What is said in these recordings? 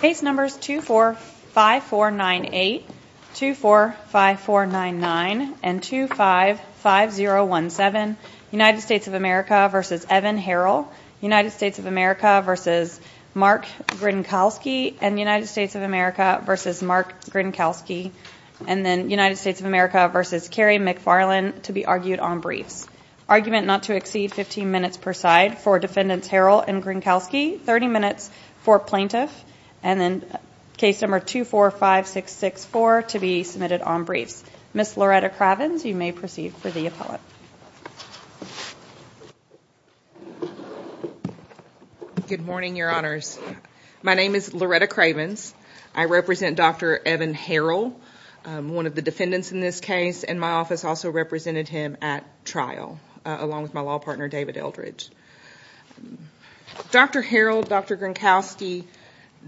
Case numbers 245498, 245499, and 255017, United States of America v. Evan Herrell, United States of America v. Mark Grinkowski, and United States of America v. Mark Grinkowski, and then United States of America v. Kerry McFarlane, to be argued on briefs. Argument not to exceed 15 minutes per side for Defendants Herrell and Grinkowski, 30 minutes for plaintiff, and then case number 245664 to be submitted on briefs. Ms. Loretta Cravens, you may proceed for the appellate. Good morning, your honors. My name is Loretta Cravens. I represent Dr. Evan Herrell, one of the defendants in this case, and my office also represented him at trial along with my law partner, David Eldridge. Dr. Herrell, Dr. Grinkowski,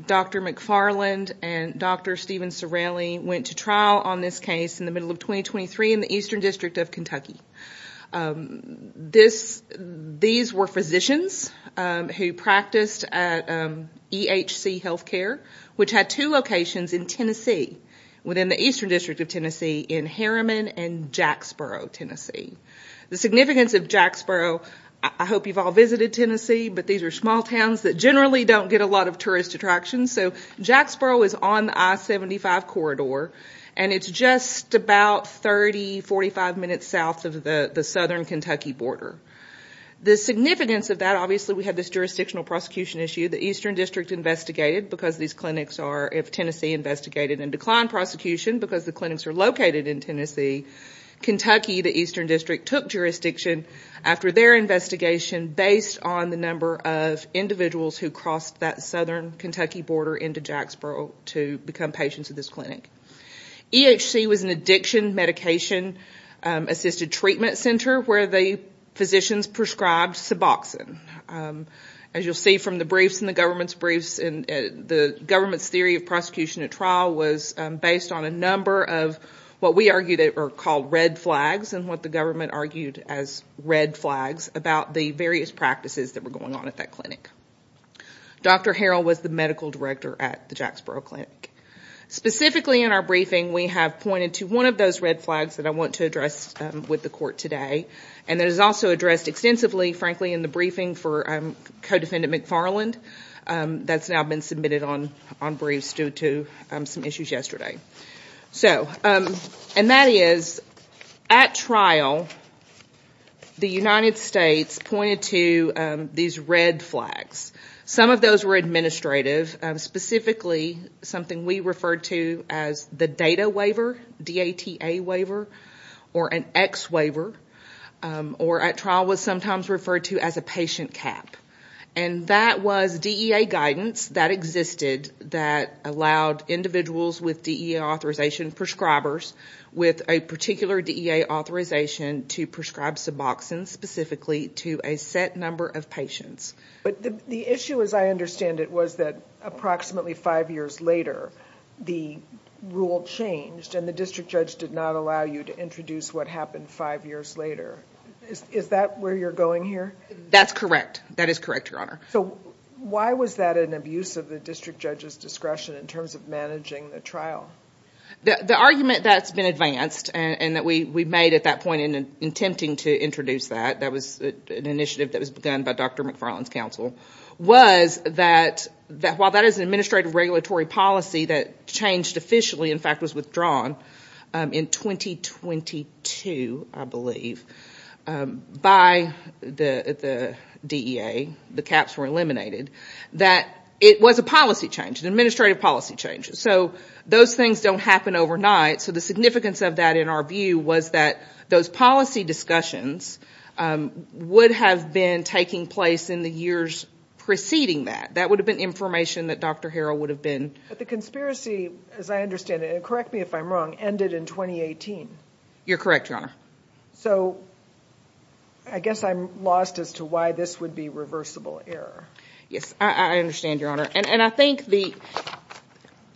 Dr. McFarlane, and Dr. Stephen Cirelli went to trial on this case in the middle of 2023 in the Eastern District of Kentucky. These were physicians who practiced at EHC Healthcare, which had two locations in Tennessee, within the Eastern District of Tennessee, in Harriman and Jacksboro, Tennessee. The significance of Jacksboro, I hope you've all visited Tennessee, but these are small towns that generally don't get a lot of tourist attractions. Jacksboro is on the I-75 corridor, and it's just about 30-45 minutes south of the southern Kentucky border. The significance of that, obviously we have this jurisdictional prosecution issue. The Eastern District investigated, because these clinics are, if Tennessee investigated and declined prosecution, because the clinics are located in Tennessee, Kentucky, the Eastern District, took jurisdiction after their investigation based on the number of individuals who crossed that southern Kentucky border into Jacksboro to become patients at this clinic. EHC was an addiction medication-assisted treatment center where the physicians prescribed Suboxone. As you'll see from the briefs and the government's briefs, the government's theory of prosecution at trial was based on a number of what we argued were called red flags, and what the government argued as red flags about the various practices that were going on at that clinic. Dr. Harrell was the medical director at the Jacksboro Clinic. Specifically in our briefing, we have pointed to one of those red flags that I want to address with the court today, and that is also addressed extensively, frankly, in the briefing for co-defendant McFarland that's now been submitted on briefs due to some issues yesterday. And that is, at trial, the United States pointed to these red flags. Some of those were administrative, specifically something we referred to as the DATA waiver, D-A-T-A waiver, or an X waiver, or at trial was sometimes referred to as a patient cap. And that was DEA guidance that existed that allowed individuals with DEA authorization, prescribers with a particular DEA authorization to prescribe Suboxone specifically to a set number of patients. But the issue, as I understand it, was that approximately five years later, the rule changed and the district judge did not allow you to introduce what happened five years later. Is that where you're going here? That's correct. That is correct, Your Honor. Why was that an abuse of the district judge's discretion in terms of managing the trial? The argument that's been advanced and that we made at that point in attempting to introduce that, that was an initiative that was begun by Dr. McFarland's counsel, was that while that is an administrative regulatory policy that changed officially, in fact was withdrawn in 2022, I believe, by the DEA, the caps were eliminated, that it was a policy change, an administrative policy change. So those things don't happen overnight. So the significance of that in our view was that those policy discussions would have been taking place in the years preceding that. That would have been information that Dr. Harrell would have been... But the conspiracy, as I understand it, and correct me if I'm wrong, ended in 2018. You're correct, Your Honor. So I guess I'm lost as to why this would be reversible error. Yes, I understand, Your Honor. And I think the...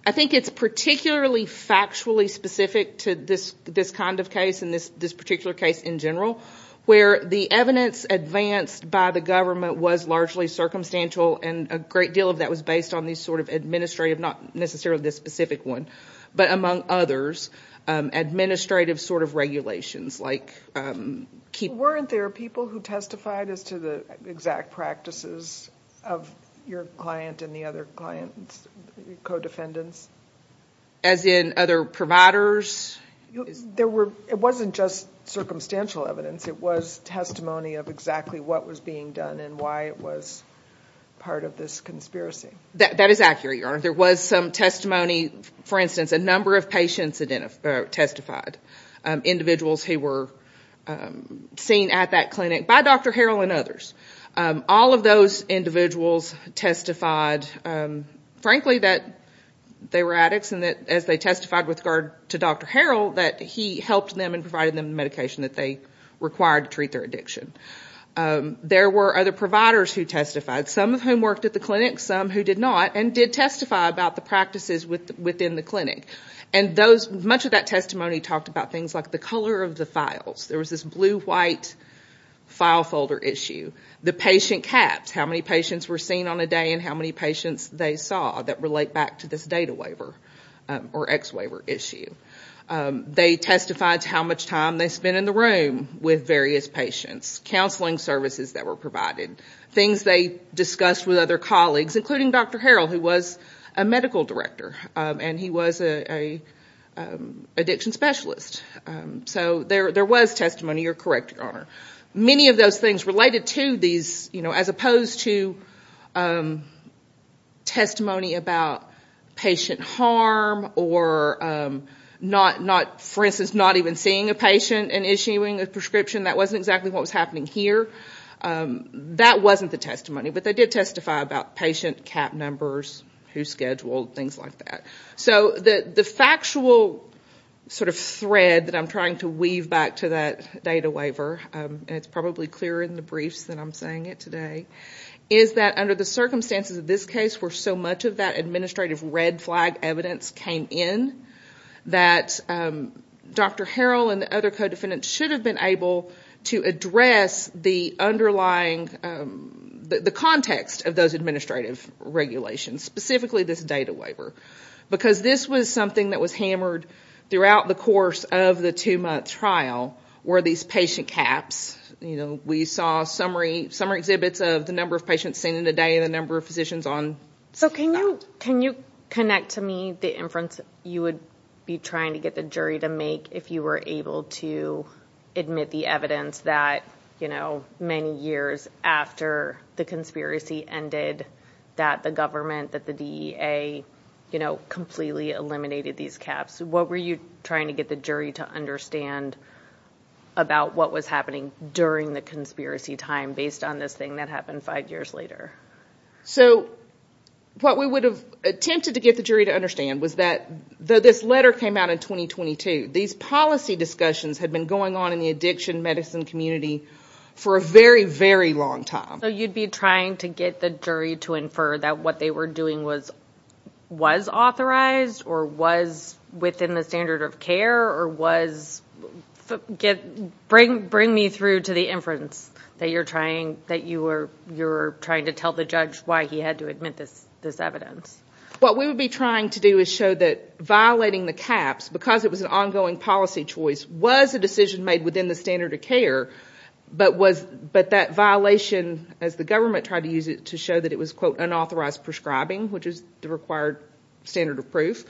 I think it's particularly factually specific to this kind of case and this particular case in general, where the evidence advanced by the government was largely circumstantial and a great deal of that was based on these sort of administrative, not necessarily this specific one, but among others, administrative sort of regulations like... Weren't there people who testified as to the exact practices of your client and the other client's co-defendants? As in other providers? It wasn't just circumstantial evidence. It was testimony of exactly what was being done and why it was part of this conspiracy. That is accurate, Your Honor. There was some testimony, for instance, a number of patients identified or testified, individuals who were seen at that clinic by Dr. Harrell and others. All of those individuals testified, frankly, that they were addicts and that as they testified with regard to Dr. Harrell, that he helped them and provided them the medication that they required to treat their addiction. There were other providers who testified, some of whom worked at the clinic, some who did not, and did testify about the practices within the clinic. And those... Much of that testimony talked about things like the color of the files. There was this blue-white file folder issue, the patient caps, how many patients were seen on a day and how many patients they saw that relate back to this data waiver or ex-waiver issue. They testified to how much time they spent in the room with various patients, counseling services that were provided, things they discussed with other colleagues, including Dr. Harrell, who was a medical director and he was an addiction specialist. So there was testimony, you're correct, Your Honor. Many of those things related to these, as opposed to testimony about patient harm or not, for instance, not even seeing a patient and issuing a prescription. That wasn't exactly what was happening here. That wasn't the testimony, but they did testify about patient cap numbers, who scheduled, things like that. So the factual sort of thread that I'm trying to weave back to that data waiver, and it's probably clearer in the briefs than I'm saying it today, is that under the circumstances of this case, where so much of that administrative red flag evidence came in, that Dr. Harrell and the other co-defendants should have been able to address the underlying... The context of those administrative regulations, specifically this data waiver. Because this was something that was hammered throughout the course of the two-month trial, were these patient caps. We saw summary exhibits of the number of patients seen in a day and the number of physicians on site. So can you connect to me the inference you would be trying to get the jury to make if you were able to admit the evidence that many years after the conspiracy ended, that the government, that the DEA, completely eliminated these caps. What were you trying to get the jury to understand about what was happening during the conspiracy time based on this thing that happened five years later? So what we would have attempted to get the jury to understand was that this letter came out in 2022. These policy discussions had been going on in the addiction medicine community for a very, very long time. So you'd be trying to get the jury to infer that what they were doing was authorized or was within the standard of care or was... Bring me through to the inference that you're trying to tell the judge why he had to admit this evidence. What we would be trying to do is show that violating the caps, because it was an ongoing policy choice, was a decision made within the standard of care, but that violation, as the government tried to use it, to show that it was, quote, unauthorized prescribing, which is the required standard of proof,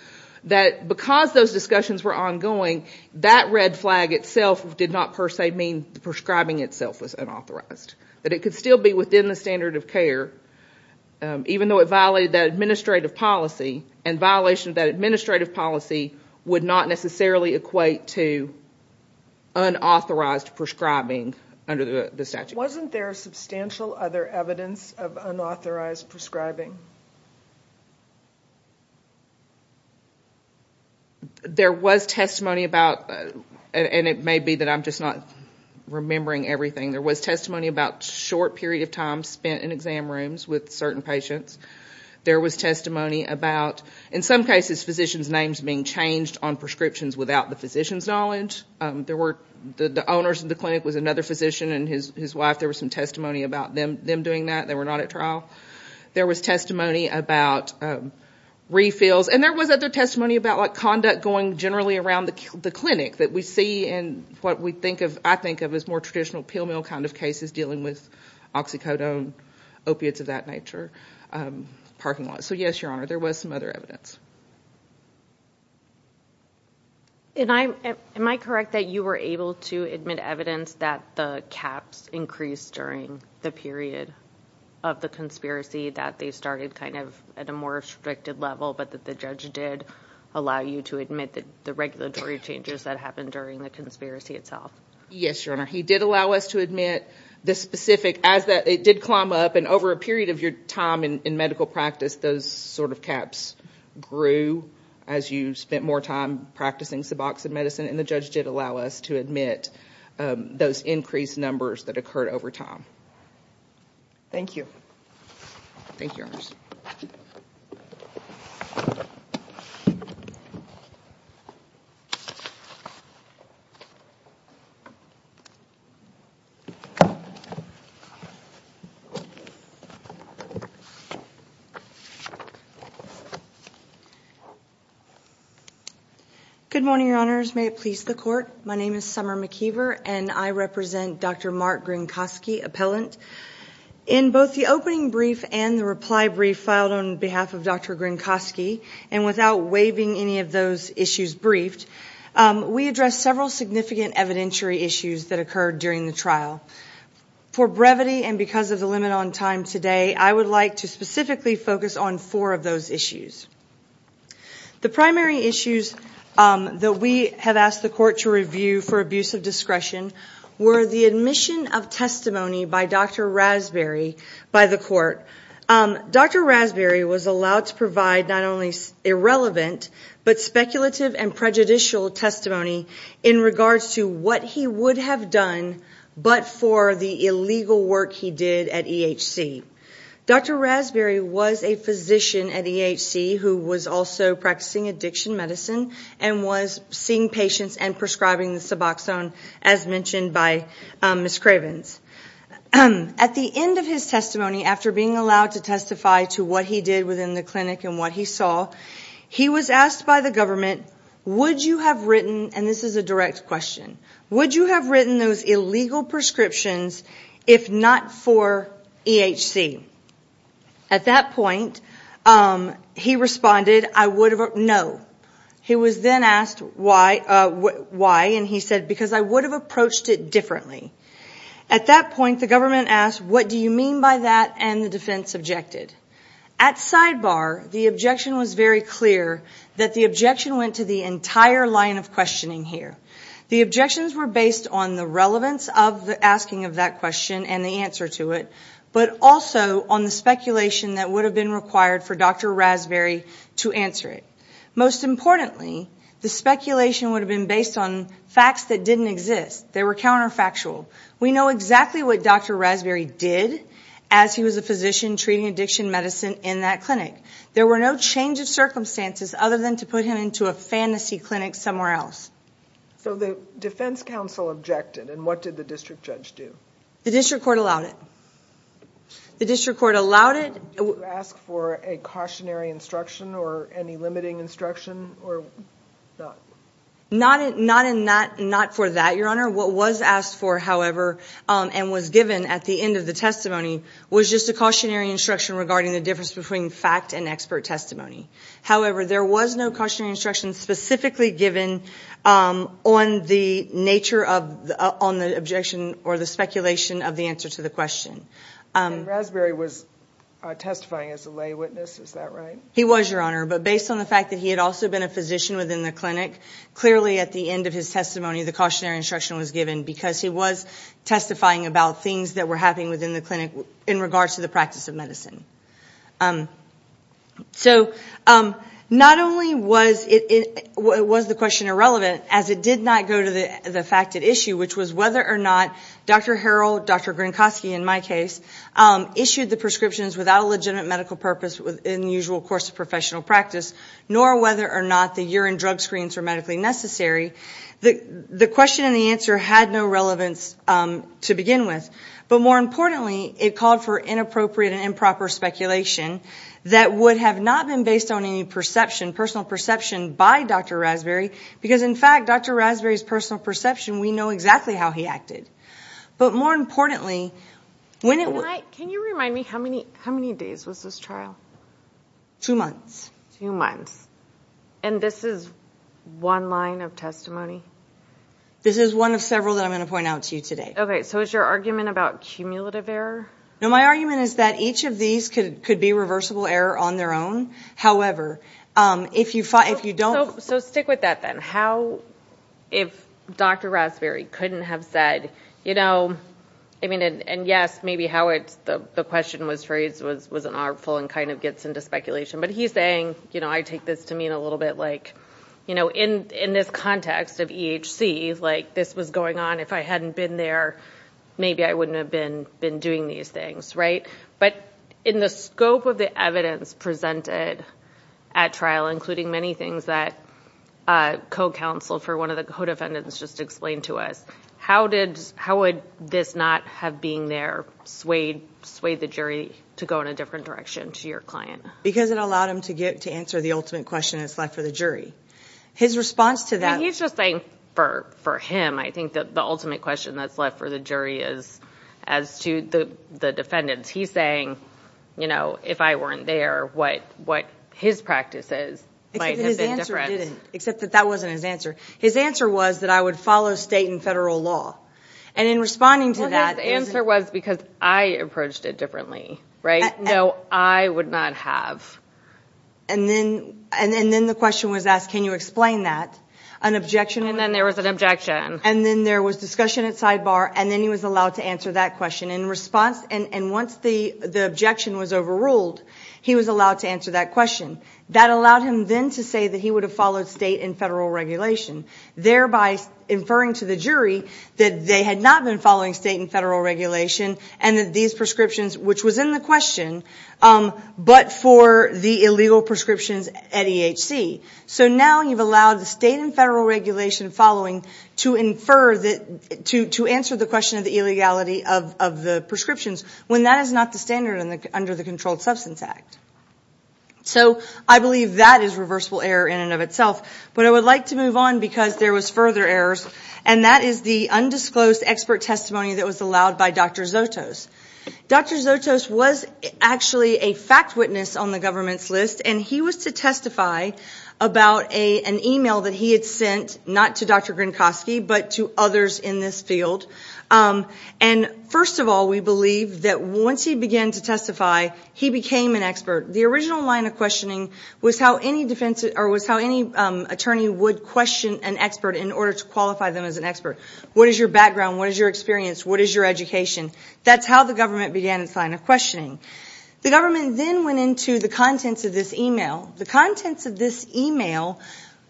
that because those discussions were ongoing, that red flag itself did not per se mean the prescribing itself was unauthorized, that it could still be within the standard of care, even though it violated that administrative policy, and violation of that administrative policy would not necessarily equate to unauthorized prescribing under the statute. Wasn't there substantial other evidence of unauthorized prescribing? There was testimony about... And it may be that I'm just not remembering everything. There was testimony about short period of time spent in exam rooms with certain patients. There was testimony about, in some cases, physicians' names being changed on prescriptions without the physician's knowledge. There were... The owners of the clinic was another physician and his wife. There was some testimony about them doing that. They were not at trial. There was testimony about refills, and there was other testimony about conduct going generally around the clinic that we see in what I think of as more traditional pill mill kind of cases dealing with oxycodone, opiates of that nature, parking lots. So yes, Your Honor, there was some other evidence. Am I correct that you were able to admit evidence that the caps increased during the period of the conspiracy, that they started kind of at a more restricted level, but that the judge did allow you to admit the regulatory changes that happened during the conspiracy itself? Yes, Your Honor. He did allow us to admit the specific... It did climb up, and over a period of your time in medical practice, those sort of caps grew as you spent more time practicing suboxone medicine, and the judge did allow us to admit those increased numbers that occurred over time. Thank you. Thank you, Your Honor. Thank you, Your Honors. Good morning, Your Honors. May it please the Court, my name is Summer McKeever, and I represent Dr. Mark Grinkoski, appellant. In both the opening brief and the reply brief filed on behalf of Dr. Grinkoski, and without waiving any of those issues briefed, we addressed several significant evidentiary issues that occurred during the trial. For brevity and because of the limit on time today, I would like to specifically focus on four of those issues. The primary issues that we have asked the Court to review for abuse of discretion were the admission of testimony by Dr. Rasberry by the Court. Dr. Rasberry was allowed to provide not only irrelevant, but speculative and prejudicial testimony in regards to what he would have done, but for the illegal work he did at EHC. Dr. Rasberry was a physician at EHC who was also practicing addiction medicine, and was seeing patients and prescribing the antidepressant, as mentioned by Ms. Cravens. At the end of his testimony, after being allowed to testify to what he did within the clinic and what he saw, he was asked by the government, would you have written, and this is a direct question, would you have written those illegal prescriptions if not for EHC? At that point, he responded, I would have, no. He was then asked why, and he said, because I would have approached it differently. At that point, the government asked, what do you mean by that, and the defense objected. At sidebar, the objection was very clear that the objection went to the entire line of questioning here. The objections were based on the relevance of the asking of that question and the answer to it, but also on the speculation that would have been required for Dr. Rasberry to answer it. Most importantly, the speculation would have been based on facts that didn't exist. They were counterfactual. We know exactly what Dr. Rasberry did as he was a physician treating addiction medicine in that clinic. There were no change of circumstances other than to put him into a fantasy clinic somewhere else. So the defense counsel objected, and what did the district judge do? The district court allowed it. The district court allowed it. Did you ask for a cautionary instruction or any limiting instruction? Not for that, Your Honor. What was asked for, however, and was given at the end of the testimony was just a cautionary instruction regarding the difference between fact and expert testimony. However, there was no cautionary instruction specifically given on the nature of the objection or the speculation of the answer to the question. And Rasberry was testifying as a lay witness, is that right? He was, Your Honor, but based on the fact that he had also been a physician within the clinic, clearly at the end of his testimony the cautionary instruction was given because he was testifying about things that were happening within the clinic in regards to the practice of medicine. So not only was the question irrelevant, as it did not go to the fact at issue, which was whether or not Dr. Harrell, Dr. Gronkowski in my case, issued the prescriptions without a legitimate medical purpose within the usual course of professional practice, nor whether or not the urine drug screens were medically necessary, the question and the answer had no relevance to begin with. But more importantly, it called for inappropriate and improper speculation that would have not been based on any perception, personal perception by Dr. Rasberry, because in fact Dr. Rasberry's testimony was exactly how he acted. But more importantly, when it was... Can you remind me, how many days was this trial? Two months. Two months. And this is one line of testimony? This is one of several that I'm going to point out to you today. Okay, so is your argument about cumulative error? No, my argument is that each of these could be reversible error on their own, however, if you don't... So stick with that then, how, if Dr. Rasberry couldn't have said, I mean, and yes, maybe how the question was raised was an artful and kind of gets into speculation, but he's saying, I take this to mean a little bit like, in this context of EHC, this was going on, if I hadn't been there, maybe I wouldn't have been doing these things, right? But in the scope of the evidence presented at trial, including many things that co-counsel for one of the co-defendants just explained to us, how would this not have being there swayed the jury to go in a different direction to your client? Because it allowed him to get to answer the ultimate question that's left for the jury. His response to that... I mean, he's just saying for him, I think that the ultimate question that's left for the jury is as to the defendants. He's saying, you know, if I weren't there, what, what his practices might have been different. Except that his answer didn't, except that that wasn't his answer. His answer was that I would follow state and federal law. And in responding to that... Well, his answer was because I approached it differently, right? No, I would not have. And then, and then the question was asked, can you explain that? An objection... And then there was an objection. And then there was discussion at sidebar, and then he was allowed to answer that question. And in response, and once the objection was overruled, he was allowed to answer that question. That allowed him then to say that he would have followed state and federal regulation. Thereby inferring to the jury that they had not been following state and federal regulation and that these prescriptions, which was in the question, but for the illegal prescriptions at EHC. So now you've allowed the state and federal regulation following to infer that, to answer the question of the illegality of the prescriptions, when that is not the standard under the Controlled Substance Act. So I believe that is reversible error in and of itself. But I would like to move on because there was further errors. And that is the undisclosed expert testimony that was allowed by Dr. Zotos. Dr. Zotos was actually a fact witness on the government's list, and he was to testify about an email that he had sent, not to Dr. Grinkoski, but to others in this field. And first of all, we believe that once he began to testify, he became an expert. The original line of questioning was how any defense, or was how any attorney would question an expert in order to qualify them as an expert. What is your background? What is your experience? What is your education? That's how the government began its line of questioning. The government then went into the contents of this email. The contents of this email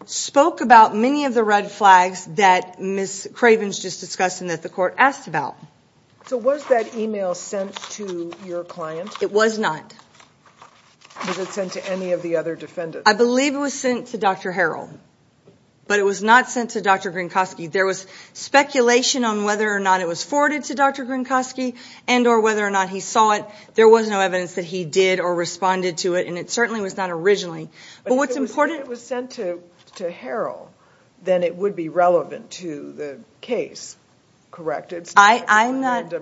spoke about many of the red flags that Ms. Craven has just discussed and that the court asked about. So was that email sent to your client? It was not. Was it sent to any of the other defendants? I believe it was sent to Dr. Harrell. But it was not sent to Dr. Grinkoski. There was speculation on whether or not it was forwarded to Dr. Grinkoski and or whether or not he saw it. There was no evidence that he did or responded to it and it certainly was not originally. But if it was sent to Harrell, then it would be relevant to the case, correct? I'm not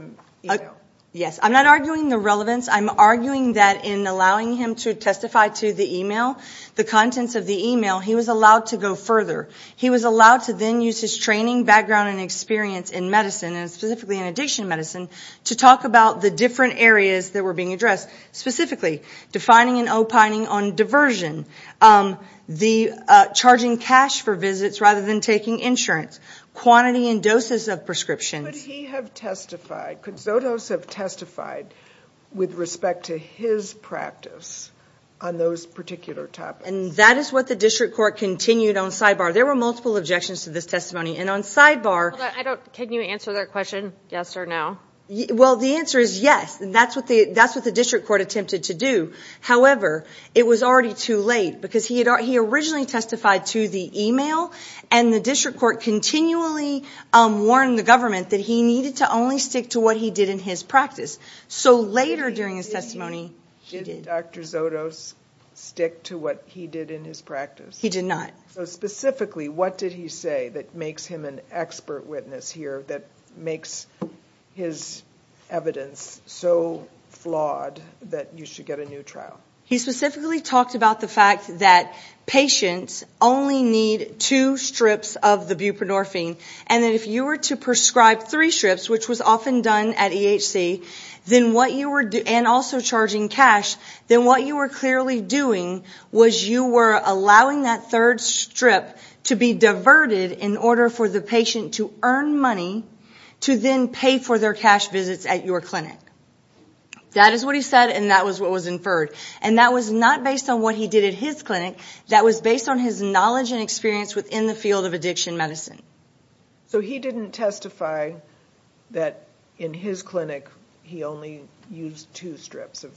arguing the relevance. I'm arguing that in allowing him to testify to the email, the contents of the email, he was allowed to go further. He was allowed to then use his training, background, and experience in medicine, and specifically in addiction medicine, to talk about the different areas that were being addressed. Specifically, defining and opining on diversion, charging cash for visits rather than taking insurance, quantity and doses of prescriptions. Could he have testified, could Zotos have testified with respect to his practice on those particular topics? And that is what the district court continued on sidebar. There were multiple objections to this testimony. And on sidebar... Can you answer that question, yes or no? Well the answer is yes, and that's what the district court attempted to do. However, it was already too late because he originally testified to the email and the district court continually warned the government that he needed to only stick to what he did in his practice. So later during his testimony, he did. Did Dr. Zotos stick to what he did in his practice? He did not. So specifically, what did he say that makes him an expert witness here, that makes his evidence so flawed that you should get a new trial? He specifically talked about the fact that patients only need two strips of the buprenorphine, and that if you were to prescribe three strips, which was often done at EHC, and also charging cash, then what you were clearly doing was you were allowing that third strip to be diverted in order for the patient to earn money to then pay for their cash visits at your clinic. That is what he said, and that was what was inferred. And that was not based on what he did at his clinic. That was based on his knowledge and experience within the field of addiction medicine. So he didn't testify that in his clinic, he only used two strips of...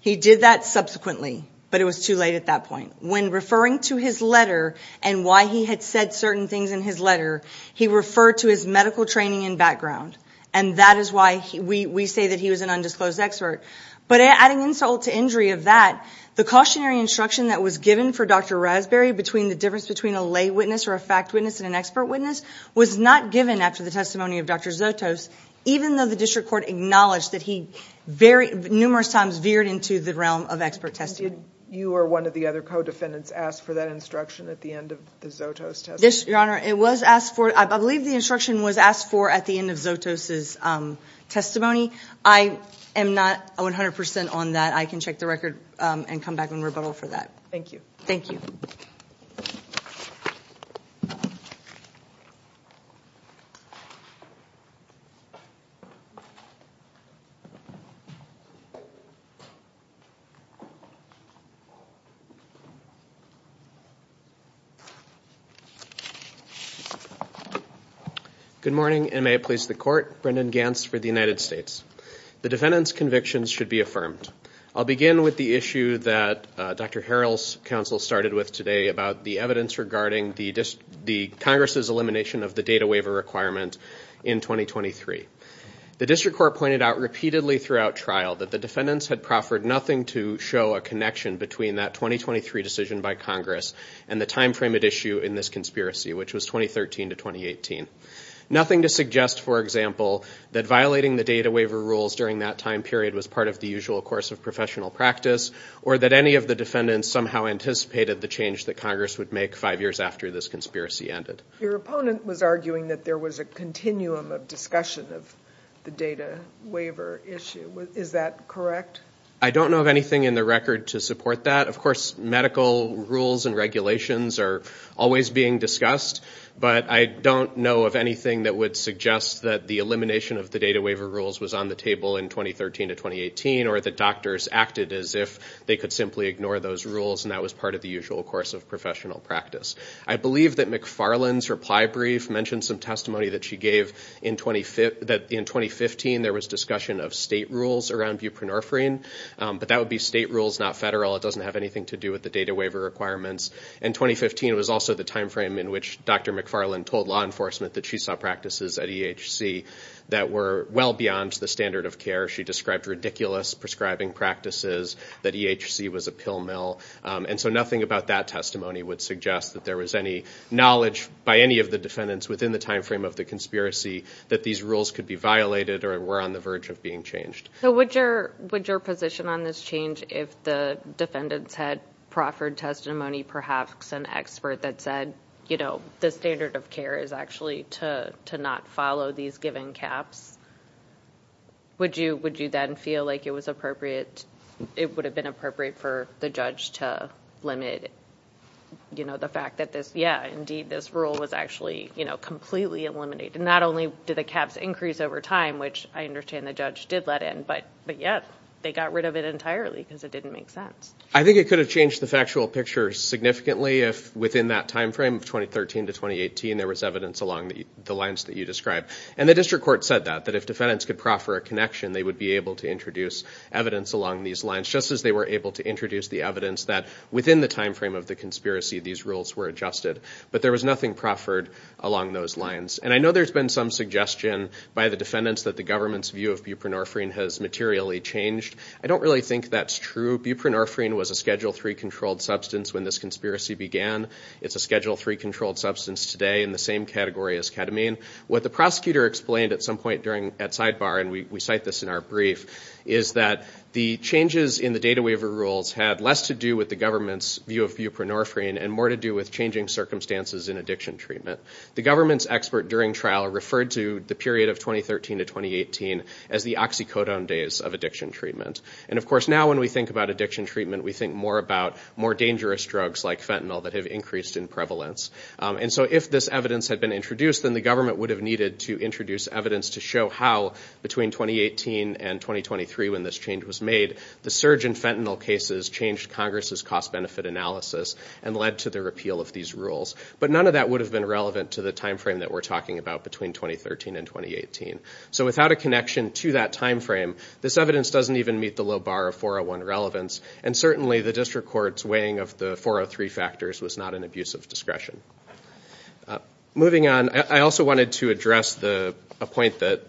He did that subsequently, but it was too late at that point. When referring to his letter and why he had said certain things in his letter, he referred to his medical training and background, and that is why we say that he was an undisclosed expert. But adding insult to injury of that, the cautionary instruction that was given for Dr. Raspberry between the difference between a lay witness or a fact witness and an expert witness was not given after the testimony of Dr. Zotos, even though the district court acknowledged that he numerous times veered into the realm of expert testimony. You or one of the other co-defendants asked for that instruction at the end of the Zotos testimony? Your Honor, it was asked for. I believe the instruction was asked for at the end of Zotos' testimony. I am not 100% on that. I can check the record and come back and rebuttal for that. Thank you. Thank you. Good morning and may it please the Court. Brendan Gantz for the United States. The defendant's convictions should be affirmed. I'll begin with the issue that Dr. Harrell's counsel started with today about the evidence regarding the Congress's elimination of the data waiver requirement in 2023. The District Court pointed out repeatedly throughout trial that the defendants had proffered nothing to show a connection between that 2023 decision by Congress and the timeframe at issue in this conspiracy, which was 2013 to 2018. Nothing to suggest, for example, that violating the data waiver rules during that time period was part of the usual course of professional practice or that any of the defendants somehow anticipated the change that Congress would make five years after this conspiracy ended. Your opponent was arguing that there was a continuum of discussion of the data waiver issue. Is that correct? I don't know of anything in the record to support that. Of course, medical rules and regulations are always being discussed, but I don't know of anything that would suggest that the elimination of the data waiver rules was on the table in 2013 to 2018 or that doctors acted as if they could simply ignore those rules and that was part of the usual course of professional practice. I believe that McFarland's reply brief mentioned some testimony that she gave that in 2015 there was discussion of state rules around buprenorphine, but that would be state rules, not federal. It doesn't have anything to do with the data waiver requirements. In 2015, it was also the timeframe in which Dr. McFarland told law enforcement that she saw practices at EHC that were well beyond the standard of care. She described ridiculous prescribing practices, that EHC was a pill mill, and so nothing about that testimony would suggest that there was any knowledge by any of the defendants within the timeframe of the conspiracy that these rules could be violated or were on the verge of being changed. So would your position on this change if the defendants had proffered testimony, perhaps said, you know, the standard of care is actually to not follow these given caps, would you then feel like it was appropriate, it would have been appropriate for the judge to limit, you know, the fact that this, yeah, indeed, this rule was actually, you know, completely eliminated. Not only did the caps increase over time, which I understand the judge did let in, but yet they got rid of it entirely because it didn't make sense. I think it could have changed the factual picture significantly if within that timeframe of 2013 to 2018, there was evidence along the lines that you described. And the district court said that, that if defendants could proffer a connection, they would be able to introduce evidence along these lines, just as they were able to introduce the evidence that within the timeframe of the conspiracy, these rules were adjusted. But there was nothing proffered along those lines. And I know there's been some suggestion by the defendants that the government's view of buprenorphine has materially changed. I don't really think that's true. Buprenorphine was a Schedule III controlled substance when this conspiracy began. It's a Schedule III controlled substance today in the same category as ketamine. What the prosecutor explained at some point during, at sidebar, and we cite this in our brief, is that the changes in the data waiver rules had less to do with the government's view of buprenorphine and more to do with changing circumstances in addiction treatment. The government's expert during trial referred to the period of 2013 to 2018 as the oxycodone days of addiction treatment. And of course now when we think about addiction treatment, we think more about more dangerous drugs like fentanyl that have increased in prevalence. And so if this evidence had been introduced, then the government would have needed to introduce evidence to show how, between 2018 and 2023 when this change was made, the surge in fentanyl cases changed Congress's cost-benefit analysis and led to the repeal of these rules. But none of that would have been relevant to the timeframe that we're talking about between 2013 and 2018. So without a connection to that timeframe, this evidence doesn't even meet the low bar of 401 relevance. And certainly the district court's weighing of the 403 factors was not an abuse of discretion. Moving on, I also wanted to address a point that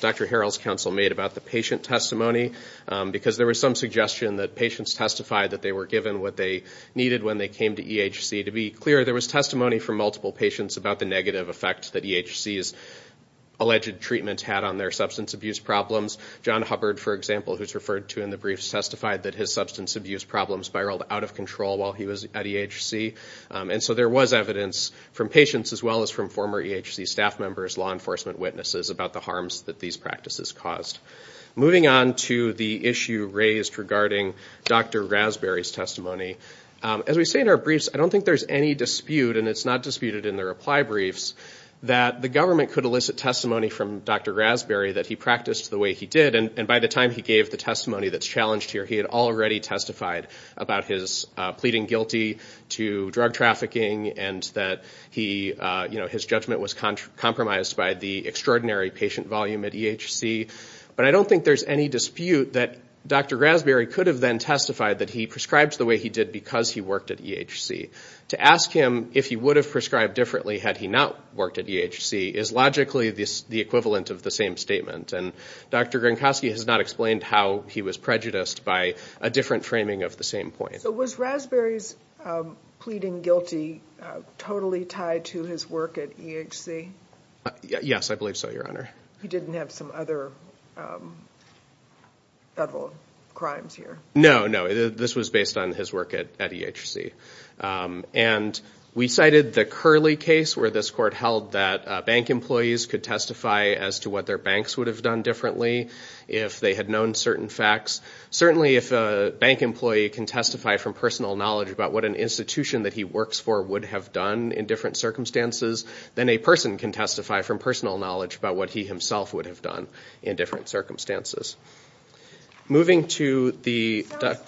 Dr. Harrell's counsel made about the patient testimony because there was some suggestion that patients testified that they were given what they needed when they came to EHC. To be clear, there was testimony from multiple patients about the negative effect that EHC's alleged treatment had on their substance abuse problems. John Hubbard, for example, who's referred to in the briefs, testified that his substance abuse problems spiraled out of control while he was at EHC. And so there was evidence from patients as well as from former EHC staff members, law enforcement witnesses, about the harms that these practices caused. Moving on to the issue raised regarding Dr. Raspberry's testimony, as we say in our briefs, I don't think there's any dispute, and it's not disputed in the reply briefs, that the government could elicit testimony from Dr. Raspberry that he practiced the way he did. And by the time he gave the testimony that's challenged here, he had already testified about his pleading guilty to drug trafficking and that his judgment was compromised by the extraordinary patient volume at EHC. But I don't think there's any dispute that Dr. Raspberry could have then testified that he prescribed the way he did because he worked at EHC. To ask him if he would have prescribed differently had he not worked at EHC is logically the equivalent of the same statement. And Dr. Gronkowski has not explained how he was prejudiced by a different framing of the same point. So was Raspberry's pleading guilty totally tied to his work at EHC? Yes, I believe so, Your Honor. He didn't have some other federal crimes here? No, no. This was based on his work at EHC. And we cited the Curley case where this court held that bank employees could testify as to what their banks would have done differently if they had known certain facts. Certainly if a bank employee can testify from personal knowledge about what an institution that he works for would have done in different circumstances, then a person can testify from personal knowledge about what he himself would have done in different circumstances. Sounds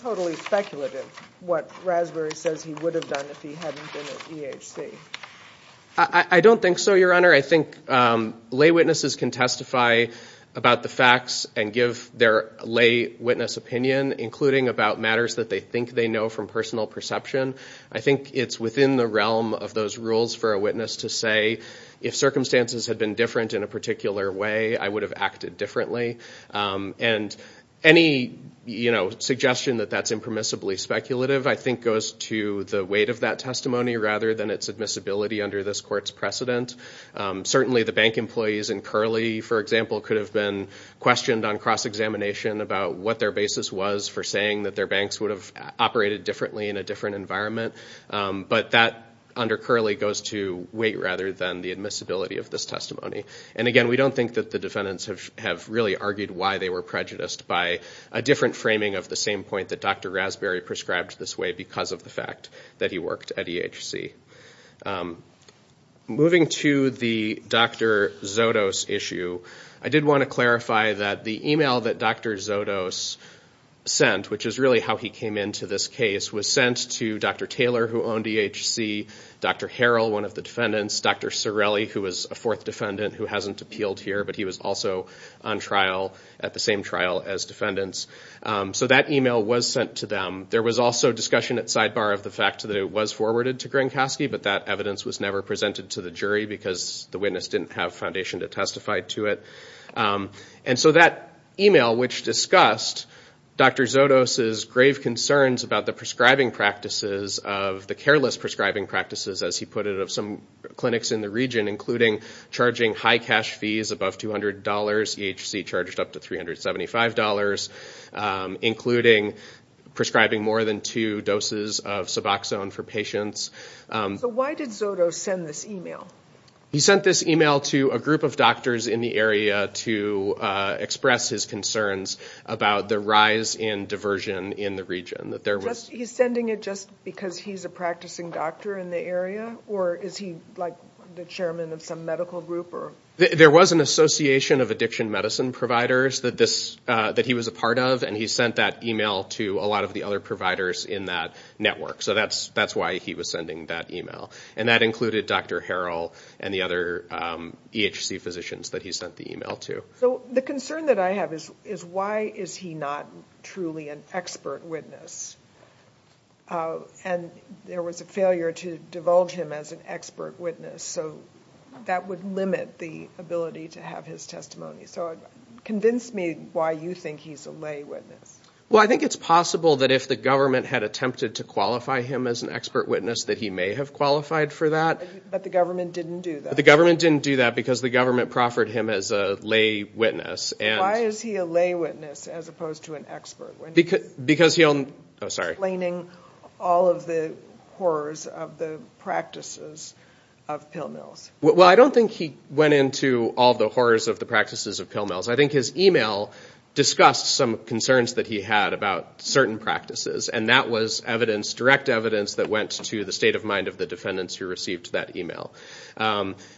totally speculative, what Raspberry says he would have done if he hadn't been at EHC. I don't think so, Your Honor. I think lay witnesses can testify about the facts and give their lay witness opinion, including about matters that they think they know from personal perception. I think it's within the realm of those rules for a witness to say, if circumstances had been different in a particular way, I would have acted differently. And any suggestion that that's impermissibly speculative I think goes to the weight of that testimony rather than its admissibility under this court's precedent. Certainly the bank employees in Curley, for example, could have been questioned on cross-examination about what their basis was for saying that their banks would have operated differently in a different environment. But that under Curley goes to weight rather than the admissibility of this testimony. And again, we don't think that the defendants have really argued why they were prejudiced by a different framing of the same point that Dr. Raspberry prescribed this way because of the fact that he worked at EHC. Moving to the Dr. Zotos issue, I did want to clarify that the email that Dr. Zotos sent, which is really how he came into this case, was sent to Dr. Taylor, who owned EHC, Dr. Harrell, one of the defendants, Dr. Cirelli, who was a fourth defendant who hasn't appealed here, but he was also on trial at the same trial as defendants. So that email was sent to them. There was also discussion at sidebar of the fact that it was forwarded to Gronkowski, but that evidence was never presented to the jury because the witness didn't have foundation to testify to it. And so that email, which discussed Dr. Zotos' grave concerns about the prescribing practices of the careless prescribing practices, as he put it, of some clinics in the region, including charging high cash fees above $200, EHC charged up to $375, including prescribing more than two doses of Suboxone for patients. So why did Zotos send this email? He sent this email to a group of doctors in the area to express his concerns about the rise in diversion in the region. He's sending it just because he's a practicing doctor in the area? Or is he the chairman of some medical group? There was an association of addiction medicine providers that he was a part of, and he sent that email to a lot of the other providers in that network. So that's why he was sending that email. And that included Dr. Harrell and the other EHC physicians that he sent the email to. So the concern that I have is why is he not truly an expert witness? And there was a failure to divulge him as an expert witness, so that would limit the ability to have his testimony. So convince me why you think he's a lay witness. Well, I think it's possible that if the government had attempted to qualify him as an expert witness that he may have qualified for that. But the government didn't do that? The government didn't do that because the government proffered him as a lay witness. Why is he a lay witness as opposed to an expert witness? Because he'll... Oh, sorry. Explaining all of the horrors of the practices of pill mills. Well, I don't think he went into all the horrors of the practices of pill mills. I think his email discussed some concerns that he had about certain practices, and that was evidence, direct evidence that went to the state of mind of the defendants who received that email.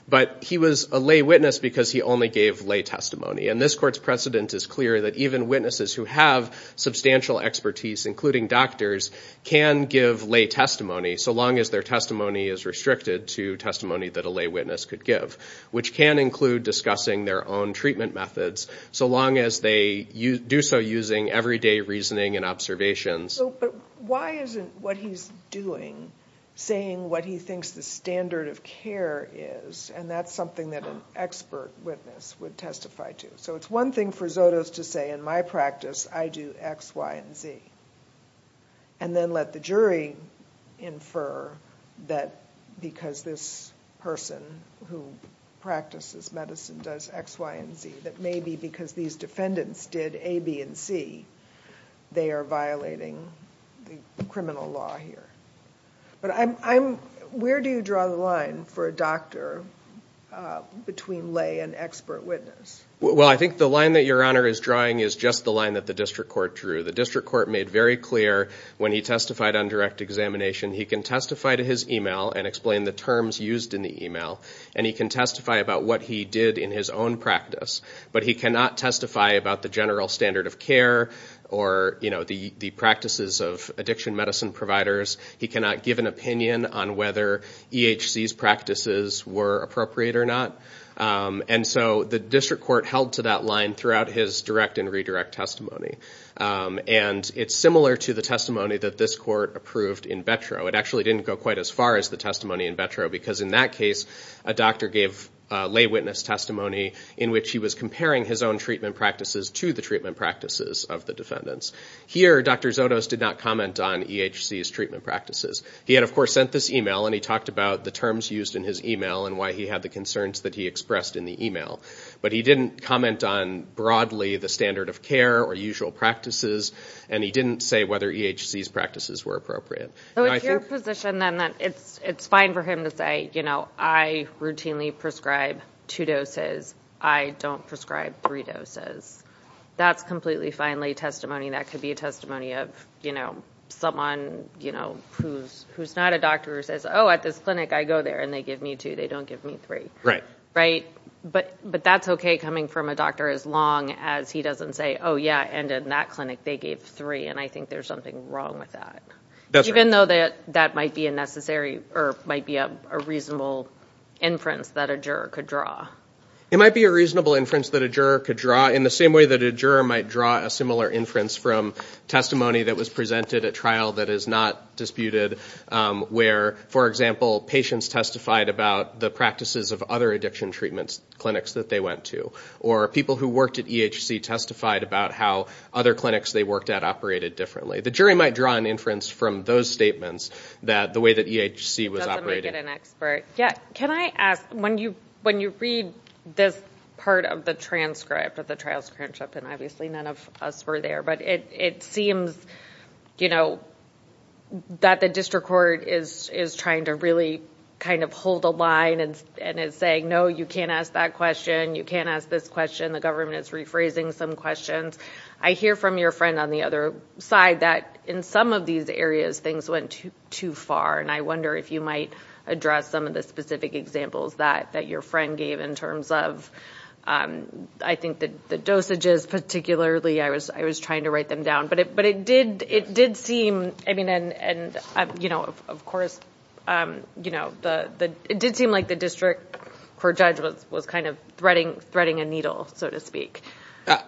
But he was a lay witness because he only gave lay testimony. And this court's precedent is clear that even witnesses who have substantial expertise, including doctors, can give lay testimony so long as their testimony is restricted to testimony that a lay witness could give, which can include discussing their own treatment methods so long as they do so using everyday reasoning and observations. But why isn't what he's doing saying what he thinks the standard of care is? And that's something that an expert witness would testify to. So it's one thing for Zotos to say, in my practice, I do X, Y, and Z, and then let the jury infer that because this person who practices medicine does X, Y, and Z, that maybe because these defendants did A, B, and C, they are violating the criminal law here. But where do you draw the line for a doctor between lay and expert witness? Well, I think the line that Your Honor is drawing is just the line that the district court drew. The district court made very clear when he testified on direct examination, he can testify to his email and explain the terms used in the email, and he can testify about what he did in his own practice. But he cannot testify about the general standard of care or the practices of addiction medicine providers. He cannot give an opinion on whether EHC's practices were appropriate or not. And so the district court held to that line throughout his direct and redirect testimony. And it's similar to the testimony that this court approved in Betro. It actually didn't go quite as far as the testimony in Betro because in that case, a defender gave lay witness testimony in which he was comparing his own treatment practices to the treatment practices of the defendants. Here Dr. Zotos did not comment on EHC's treatment practices. He had of course sent this email and he talked about the terms used in his email and why he had the concerns that he expressed in the email. But he didn't comment on broadly the standard of care or usual practices, and he didn't say whether EHC's practices were appropriate. So it's your position then that it's fine for him to say, you know, I routinely prescribe two doses, I don't prescribe three doses. That's completely fine lay testimony. That could be a testimony of, you know, someone, you know, who's not a doctor who says, oh at this clinic I go there and they give me two, they don't give me three. Right. Right? But that's okay coming from a doctor as long as he doesn't say, oh yeah, and in that clinic they gave three, and I think there's something wrong with that. That's right. Even though that might be a necessary or might be a reasonable inference that a juror could draw. It might be a reasonable inference that a juror could draw in the same way that a juror might draw a similar inference from testimony that was presented at trial that is not disputed where for example patients testified about the practices of other addiction treatment clinics that they went to, or people who worked at EHC testified about how other clinics they worked at operated differently. The jury might draw an inference from those statements that the way that EHC was operating. Does it make it an expert? Yeah. Can I ask, when you, when you read this part of the transcript of the trial's transcript and obviously none of us were there, but it, it seems, you know, that the district court is, is trying to really kind of hold a line and it's saying, no, you can't ask that question. You can't ask this question. The government is rephrasing some questions. I hear from your friend on the other side that in some of these areas, things went to too far. And I wonder if you might address some of the specific examples that, that your friend gave in terms of, um, I think that the dosages particularly, I was, I was trying to write them down, but it, but it did, it did seem, I mean, and, and, um, you know, of course, you know, the, the, it did seem like the district court judge was, was kind of threading, threading a needle, so to speak.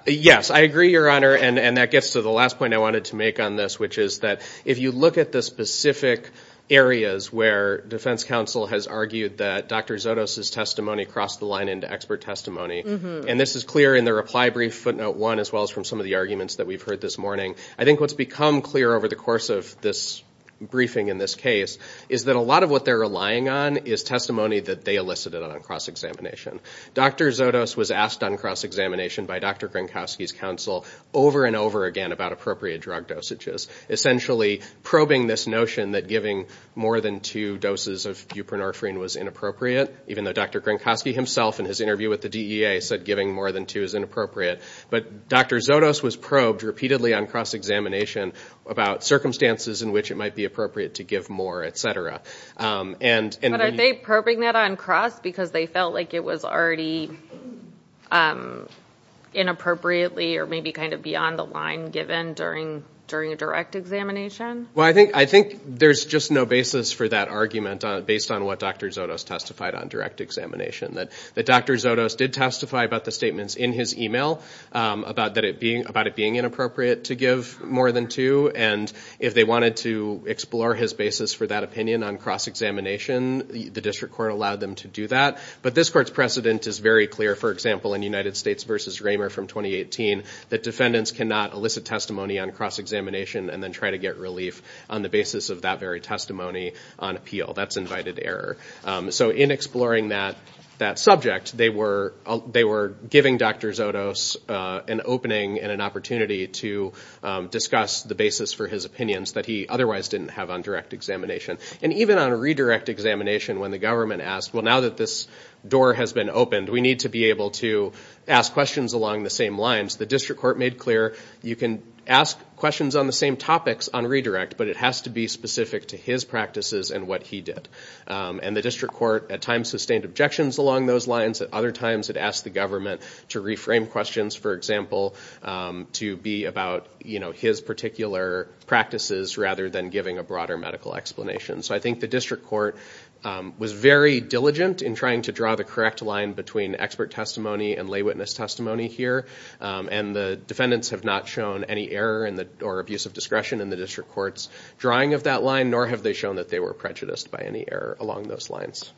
Yes. I agree, your honor. And, and that gets to the last point I wanted to make on this, which is that if you look at the specific areas where defense counsel has argued that Dr. Zotos' testimony crossed the line into expert testimony, and this is clear in the reply brief footnote one, as well as from some of the arguments that we've heard this morning, I think what's become clear over the course of this briefing in this case is that a lot of what they're relying on is testimony that they elicited on cross-examination. Dr. Zotos was asked on cross-examination by Dr. Gronkowski's counsel over and over again about appropriate drug dosages, essentially probing this notion that giving more than two doses of buprenorphine was inappropriate, even though Dr. Gronkowski himself in his interview with the DEA said giving more than two is inappropriate, but Dr. Zotos was probed repeatedly on cross-examination about circumstances in which it might be appropriate to give more, and... But are they probing that on cross because they felt like it was already inappropriately or maybe kind of beyond the line given during a direct examination? Well, I think there's just no basis for that argument based on what Dr. Zotos testified on direct examination, that Dr. Zotos did testify about the statements in his email about it being inappropriate to give more than two, and if they wanted to explore his basis for that opinion on cross-examination, the district court allowed them to do that, but this court's precedent is very clear. For example, in United States v. Raymer from 2018, the defendants cannot elicit testimony on cross-examination and then try to get relief on the basis of that very testimony on appeal. That's invited error. So in exploring that subject, they were giving Dr. Zotos an opening and an opportunity to express the basis for his opinions that he otherwise didn't have on direct examination. And even on a redirect examination, when the government asked, well, now that this door has been opened, we need to be able to ask questions along the same lines, the district court made clear, you can ask questions on the same topics on redirect, but it has to be specific to his practices and what he did. And the district court at times sustained objections along those lines, at other times it asked the government to reframe questions, for example, to be about his particular practices rather than giving a broader medical explanation. So I think the district court was very diligent in trying to draw the correct line between expert testimony and lay witness testimony here, and the defendants have not shown any error or abuse of discretion in the district court's drawing of that line, nor have they shown that they were prejudiced by any error along those lines.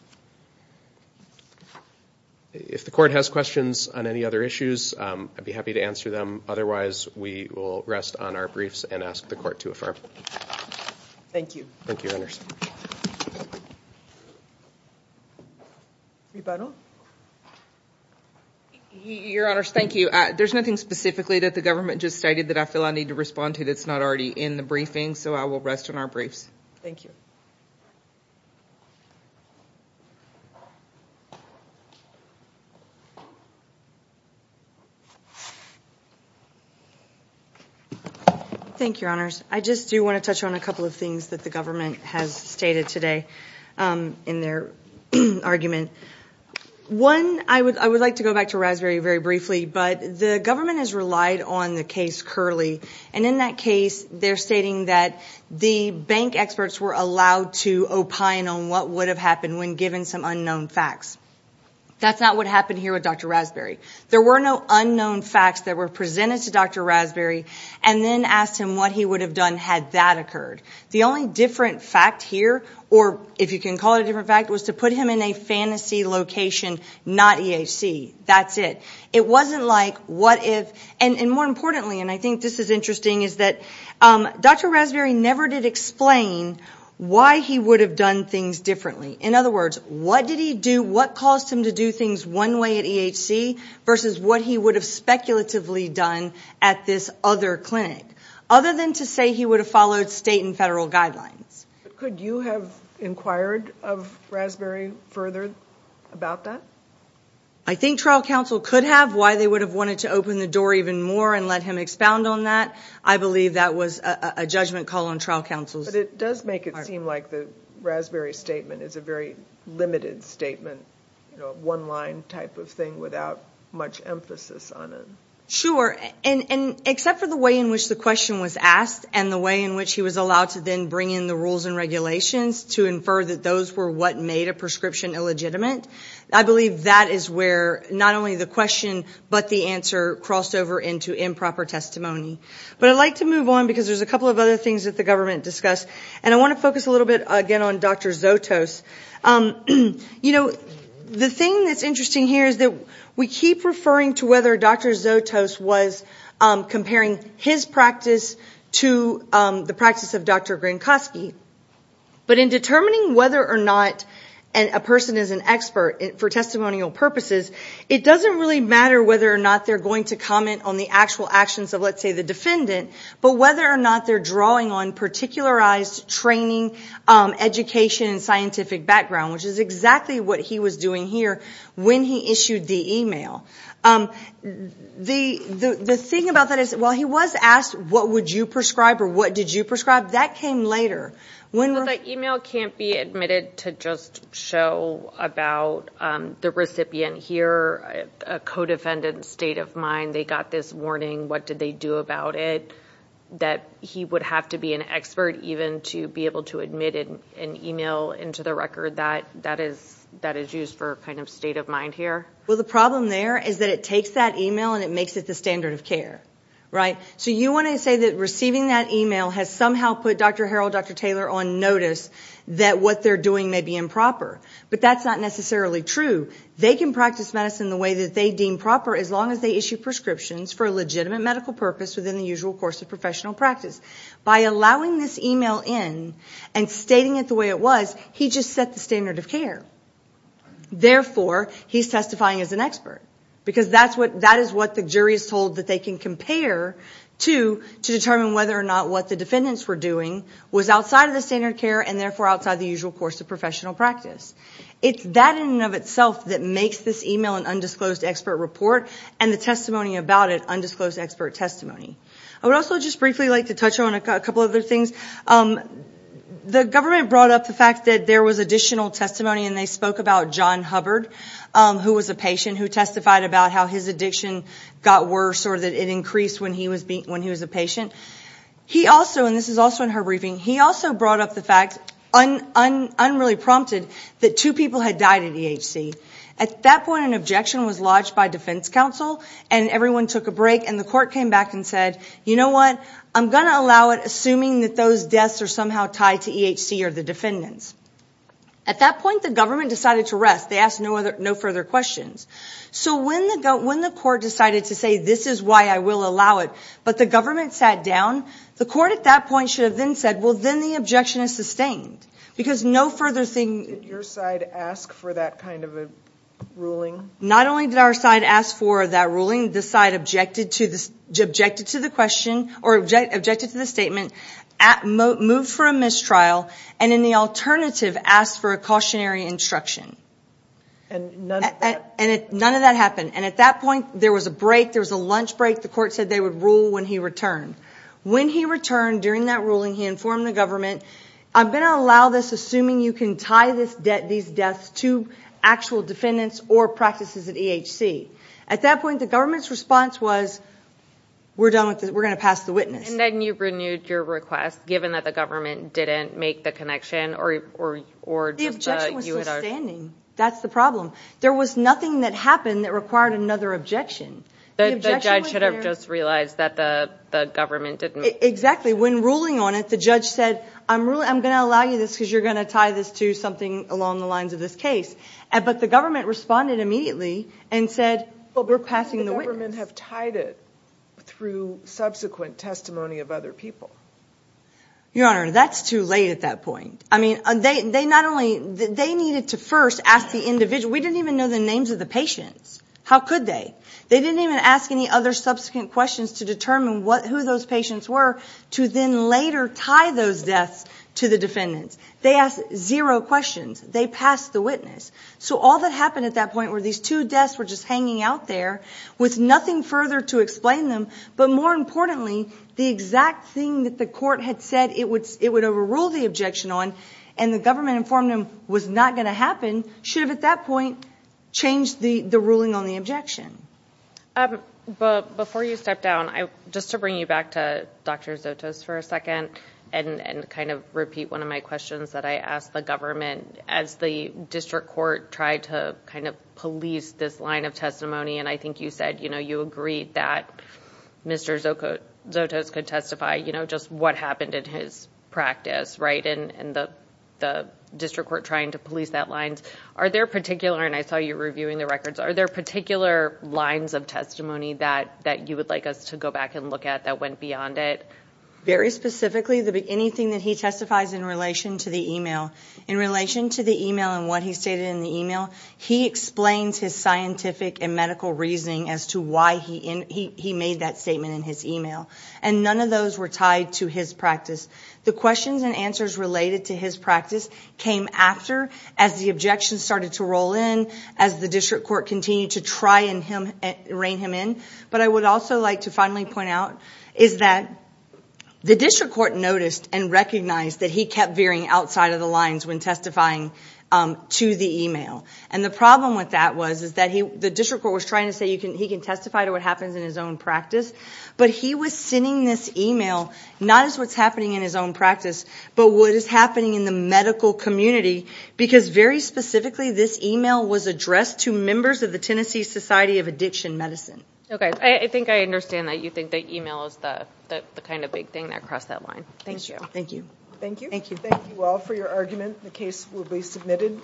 If the court has questions on any other issues, I'd be happy to answer them, otherwise we will rest on our briefs and ask the court to affirm. Thank you. Thank you, Your Honors. Rebuttal? Your Honors, thank you. There's nothing specifically that the government just stated that I feel I need to respond to that's not already in the briefing, so I will rest on our briefs. Thank you. Thank you, Your Honors. I just do want to touch on a couple of things that the government has stated today in their argument. One, I would like to go back to Rasberry very briefly, but the government has relied on the case Curley, and in that case, they're stating that the bank experts were allowed to opine on what would have happened when given some unknown facts. That's not what happened here with Dr. Rasberry. There were no unknown facts that were presented to Dr. Rasberry and then asked him what he would have done had that occurred. The only different fact here, or if you can call it a different fact, was to put him in a fantasy location, not EAC. That's it. It wasn't like what if, and more importantly, and I think this is interesting, is that Dr. Rasberry never did explain why he would have done things differently. In other words, what caused him to do things one way at EAC versus what he would have speculatively done at this other clinic, other than to say he would have followed state and federal guidelines. Could you have inquired of Rasberry further about that? I think trial counsel could have. Why they would have wanted to open the door even more and let him expound on that, I believe that was a judgment call on trial counsel's part. But it does make it seem like the Rasberry statement is a very limited statement, one line type of thing without much emphasis on it. Sure, and except for the way in which the question was asked and the way in which he was allowed to then bring in the rules and regulations to infer that those were what made a prescription illegitimate, I believe that is where not only the question but the answer crossed over into improper testimony. But I'd like to move on because there's a couple of other things that the government discussed, and I want to focus a little bit again on Dr. Zotos. You know, the thing that's interesting here is that we keep referring to whether Dr. Zotos was comparing his practice to the practice of Dr. Grinkoski. But in determining whether or not a person is an expert for testimonial purposes, it doesn't really matter whether or not they're going to comment on the actual actions of, let's say, the defendant, but whether or not they're drawing on particularized training, education, and scientific background, which is exactly what he was doing here when he issued the email. The thing about that is, while he was asked, what would you prescribe or what did you prescribe, that came later. But the email can't be admitted to just show about the recipient here, a co-defendant's state of mind, they got this warning, what did they do about it, that he would have to be an expert even to be able to admit an email into the record that is used for kind of state of mind here? Well, the problem there is that it takes that email and it makes it the standard of care, right? So you want to say that receiving that email has somehow put Dr. Harrell, Dr. Taylor on notice that what they're doing may be improper, but that's not necessarily true. They can practice medicine the way that they deem proper as long as they issue prescriptions for a legitimate medical purpose within the usual course of professional practice. By allowing this email in and stating it the way it was, he just set the standard of care. Therefore, he's testifying as an expert, because that is what the jury is told that they can compare to to determine whether or not what the defendants were doing was outside of the standard of care and therefore outside the usual course of professional practice. It's that in and of itself that makes this email an undisclosed expert report and the testimony about it undisclosed expert testimony. I would also just briefly like to touch on a couple other things. The government brought up the fact that there was additional testimony and they spoke about John Hubbard, who was a patient who testified about how his addiction got worse or that it increased when he was a patient. He also, and this is also in her briefing, he also brought up the fact, unreally prompted, that two people had died at EHC. At that point, an objection was lodged by defense counsel and everyone took a break and the court came back and said, you know what, I'm going to allow it assuming that those deaths are somehow tied to EHC or the defendants. At that point, the government decided to rest. They asked no further questions. So when the court decided to say this is why I will allow it, but the government sat down, the court at that point should have then said, well, then the objection is sustained. Because no further thing... Did your side ask for that kind of a ruling? Not only did our side ask for that ruling, the side objected to the question or objected to the statement, moved for a mistrial, and in the alternative, asked for a cautionary instruction. And none of that... None of that happened. And at that point, there was a break, there was a lunch break, the court said they would rule when he returned. When he returned during that ruling, he informed the government, I'm going to allow this assuming you can tie these deaths to actual defendants or practices at EHC. At that point, the government's response was, we're done with this, we're going to pass the witness. And then you renewed your request, given that the government didn't make the connection or... The objection was sustaining. That's the problem. There was nothing that happened that required another objection. The judge should have just realized that the government didn't... Exactly. When ruling on it, the judge said, I'm going to allow you this because you're going to tie this to something along the lines of this case. But the government responded immediately and said, we're passing the witness. But the government have tied it through subsequent testimony of other people. Your Honor, that's too late at that point. I mean, they not only... They needed to first ask the individual, we didn't even know the names of the patients. How could they? They didn't even ask any other subsequent questions to determine who those patients were to then later tie those deaths to the defendants. They asked zero questions. They passed the witness. So all that happened at that point were these two deaths were just hanging out there with nothing further to explain them. But more importantly, the exact thing that the court had said it would overrule the objection on and the government informed them was not going to happen should have at that point changed the ruling on the objection. Before you step down, just to bring you back to Dr. Zotos for a second and kind of repeat one of my questions that I asked the government as the district court tried to kind of police this line of testimony. And I think you said, you know, you agreed that Mr. Zotos could testify, you know, just what happened in his practice, right? And the district court trying to police that lines. Are there particular, and I saw you reviewing the records, are there particular lines of testimony that you would like us to go back and look at that went beyond it? Very specifically, anything that he testifies in relation to the email. In relation to the email and what he stated in the email, he explains his scientific and medical reasoning as to why he made that statement in his email. And none of those were tied to his practice. The questions and answers related to his practice came after as the objections started to roll in as the district court continued to try and rein him in. But I would also like to finally point out is that the district court noticed and recognized that he kept veering outside of the lines when testifying to the email. And the problem with that was that the district court was trying to say he can testify to what happens in his own practice, but he was sending this email not as what's happening in his own practice, but what is happening in the medical community because very specifically this email was addressed to members of the Tennessee Society of Addiction Medicine. Okay, I think I understand that you think that email is the kind of big thing that crossed that line. Thank you. Thank you. Thank you. Thank you all for your argument. The case will be submitted.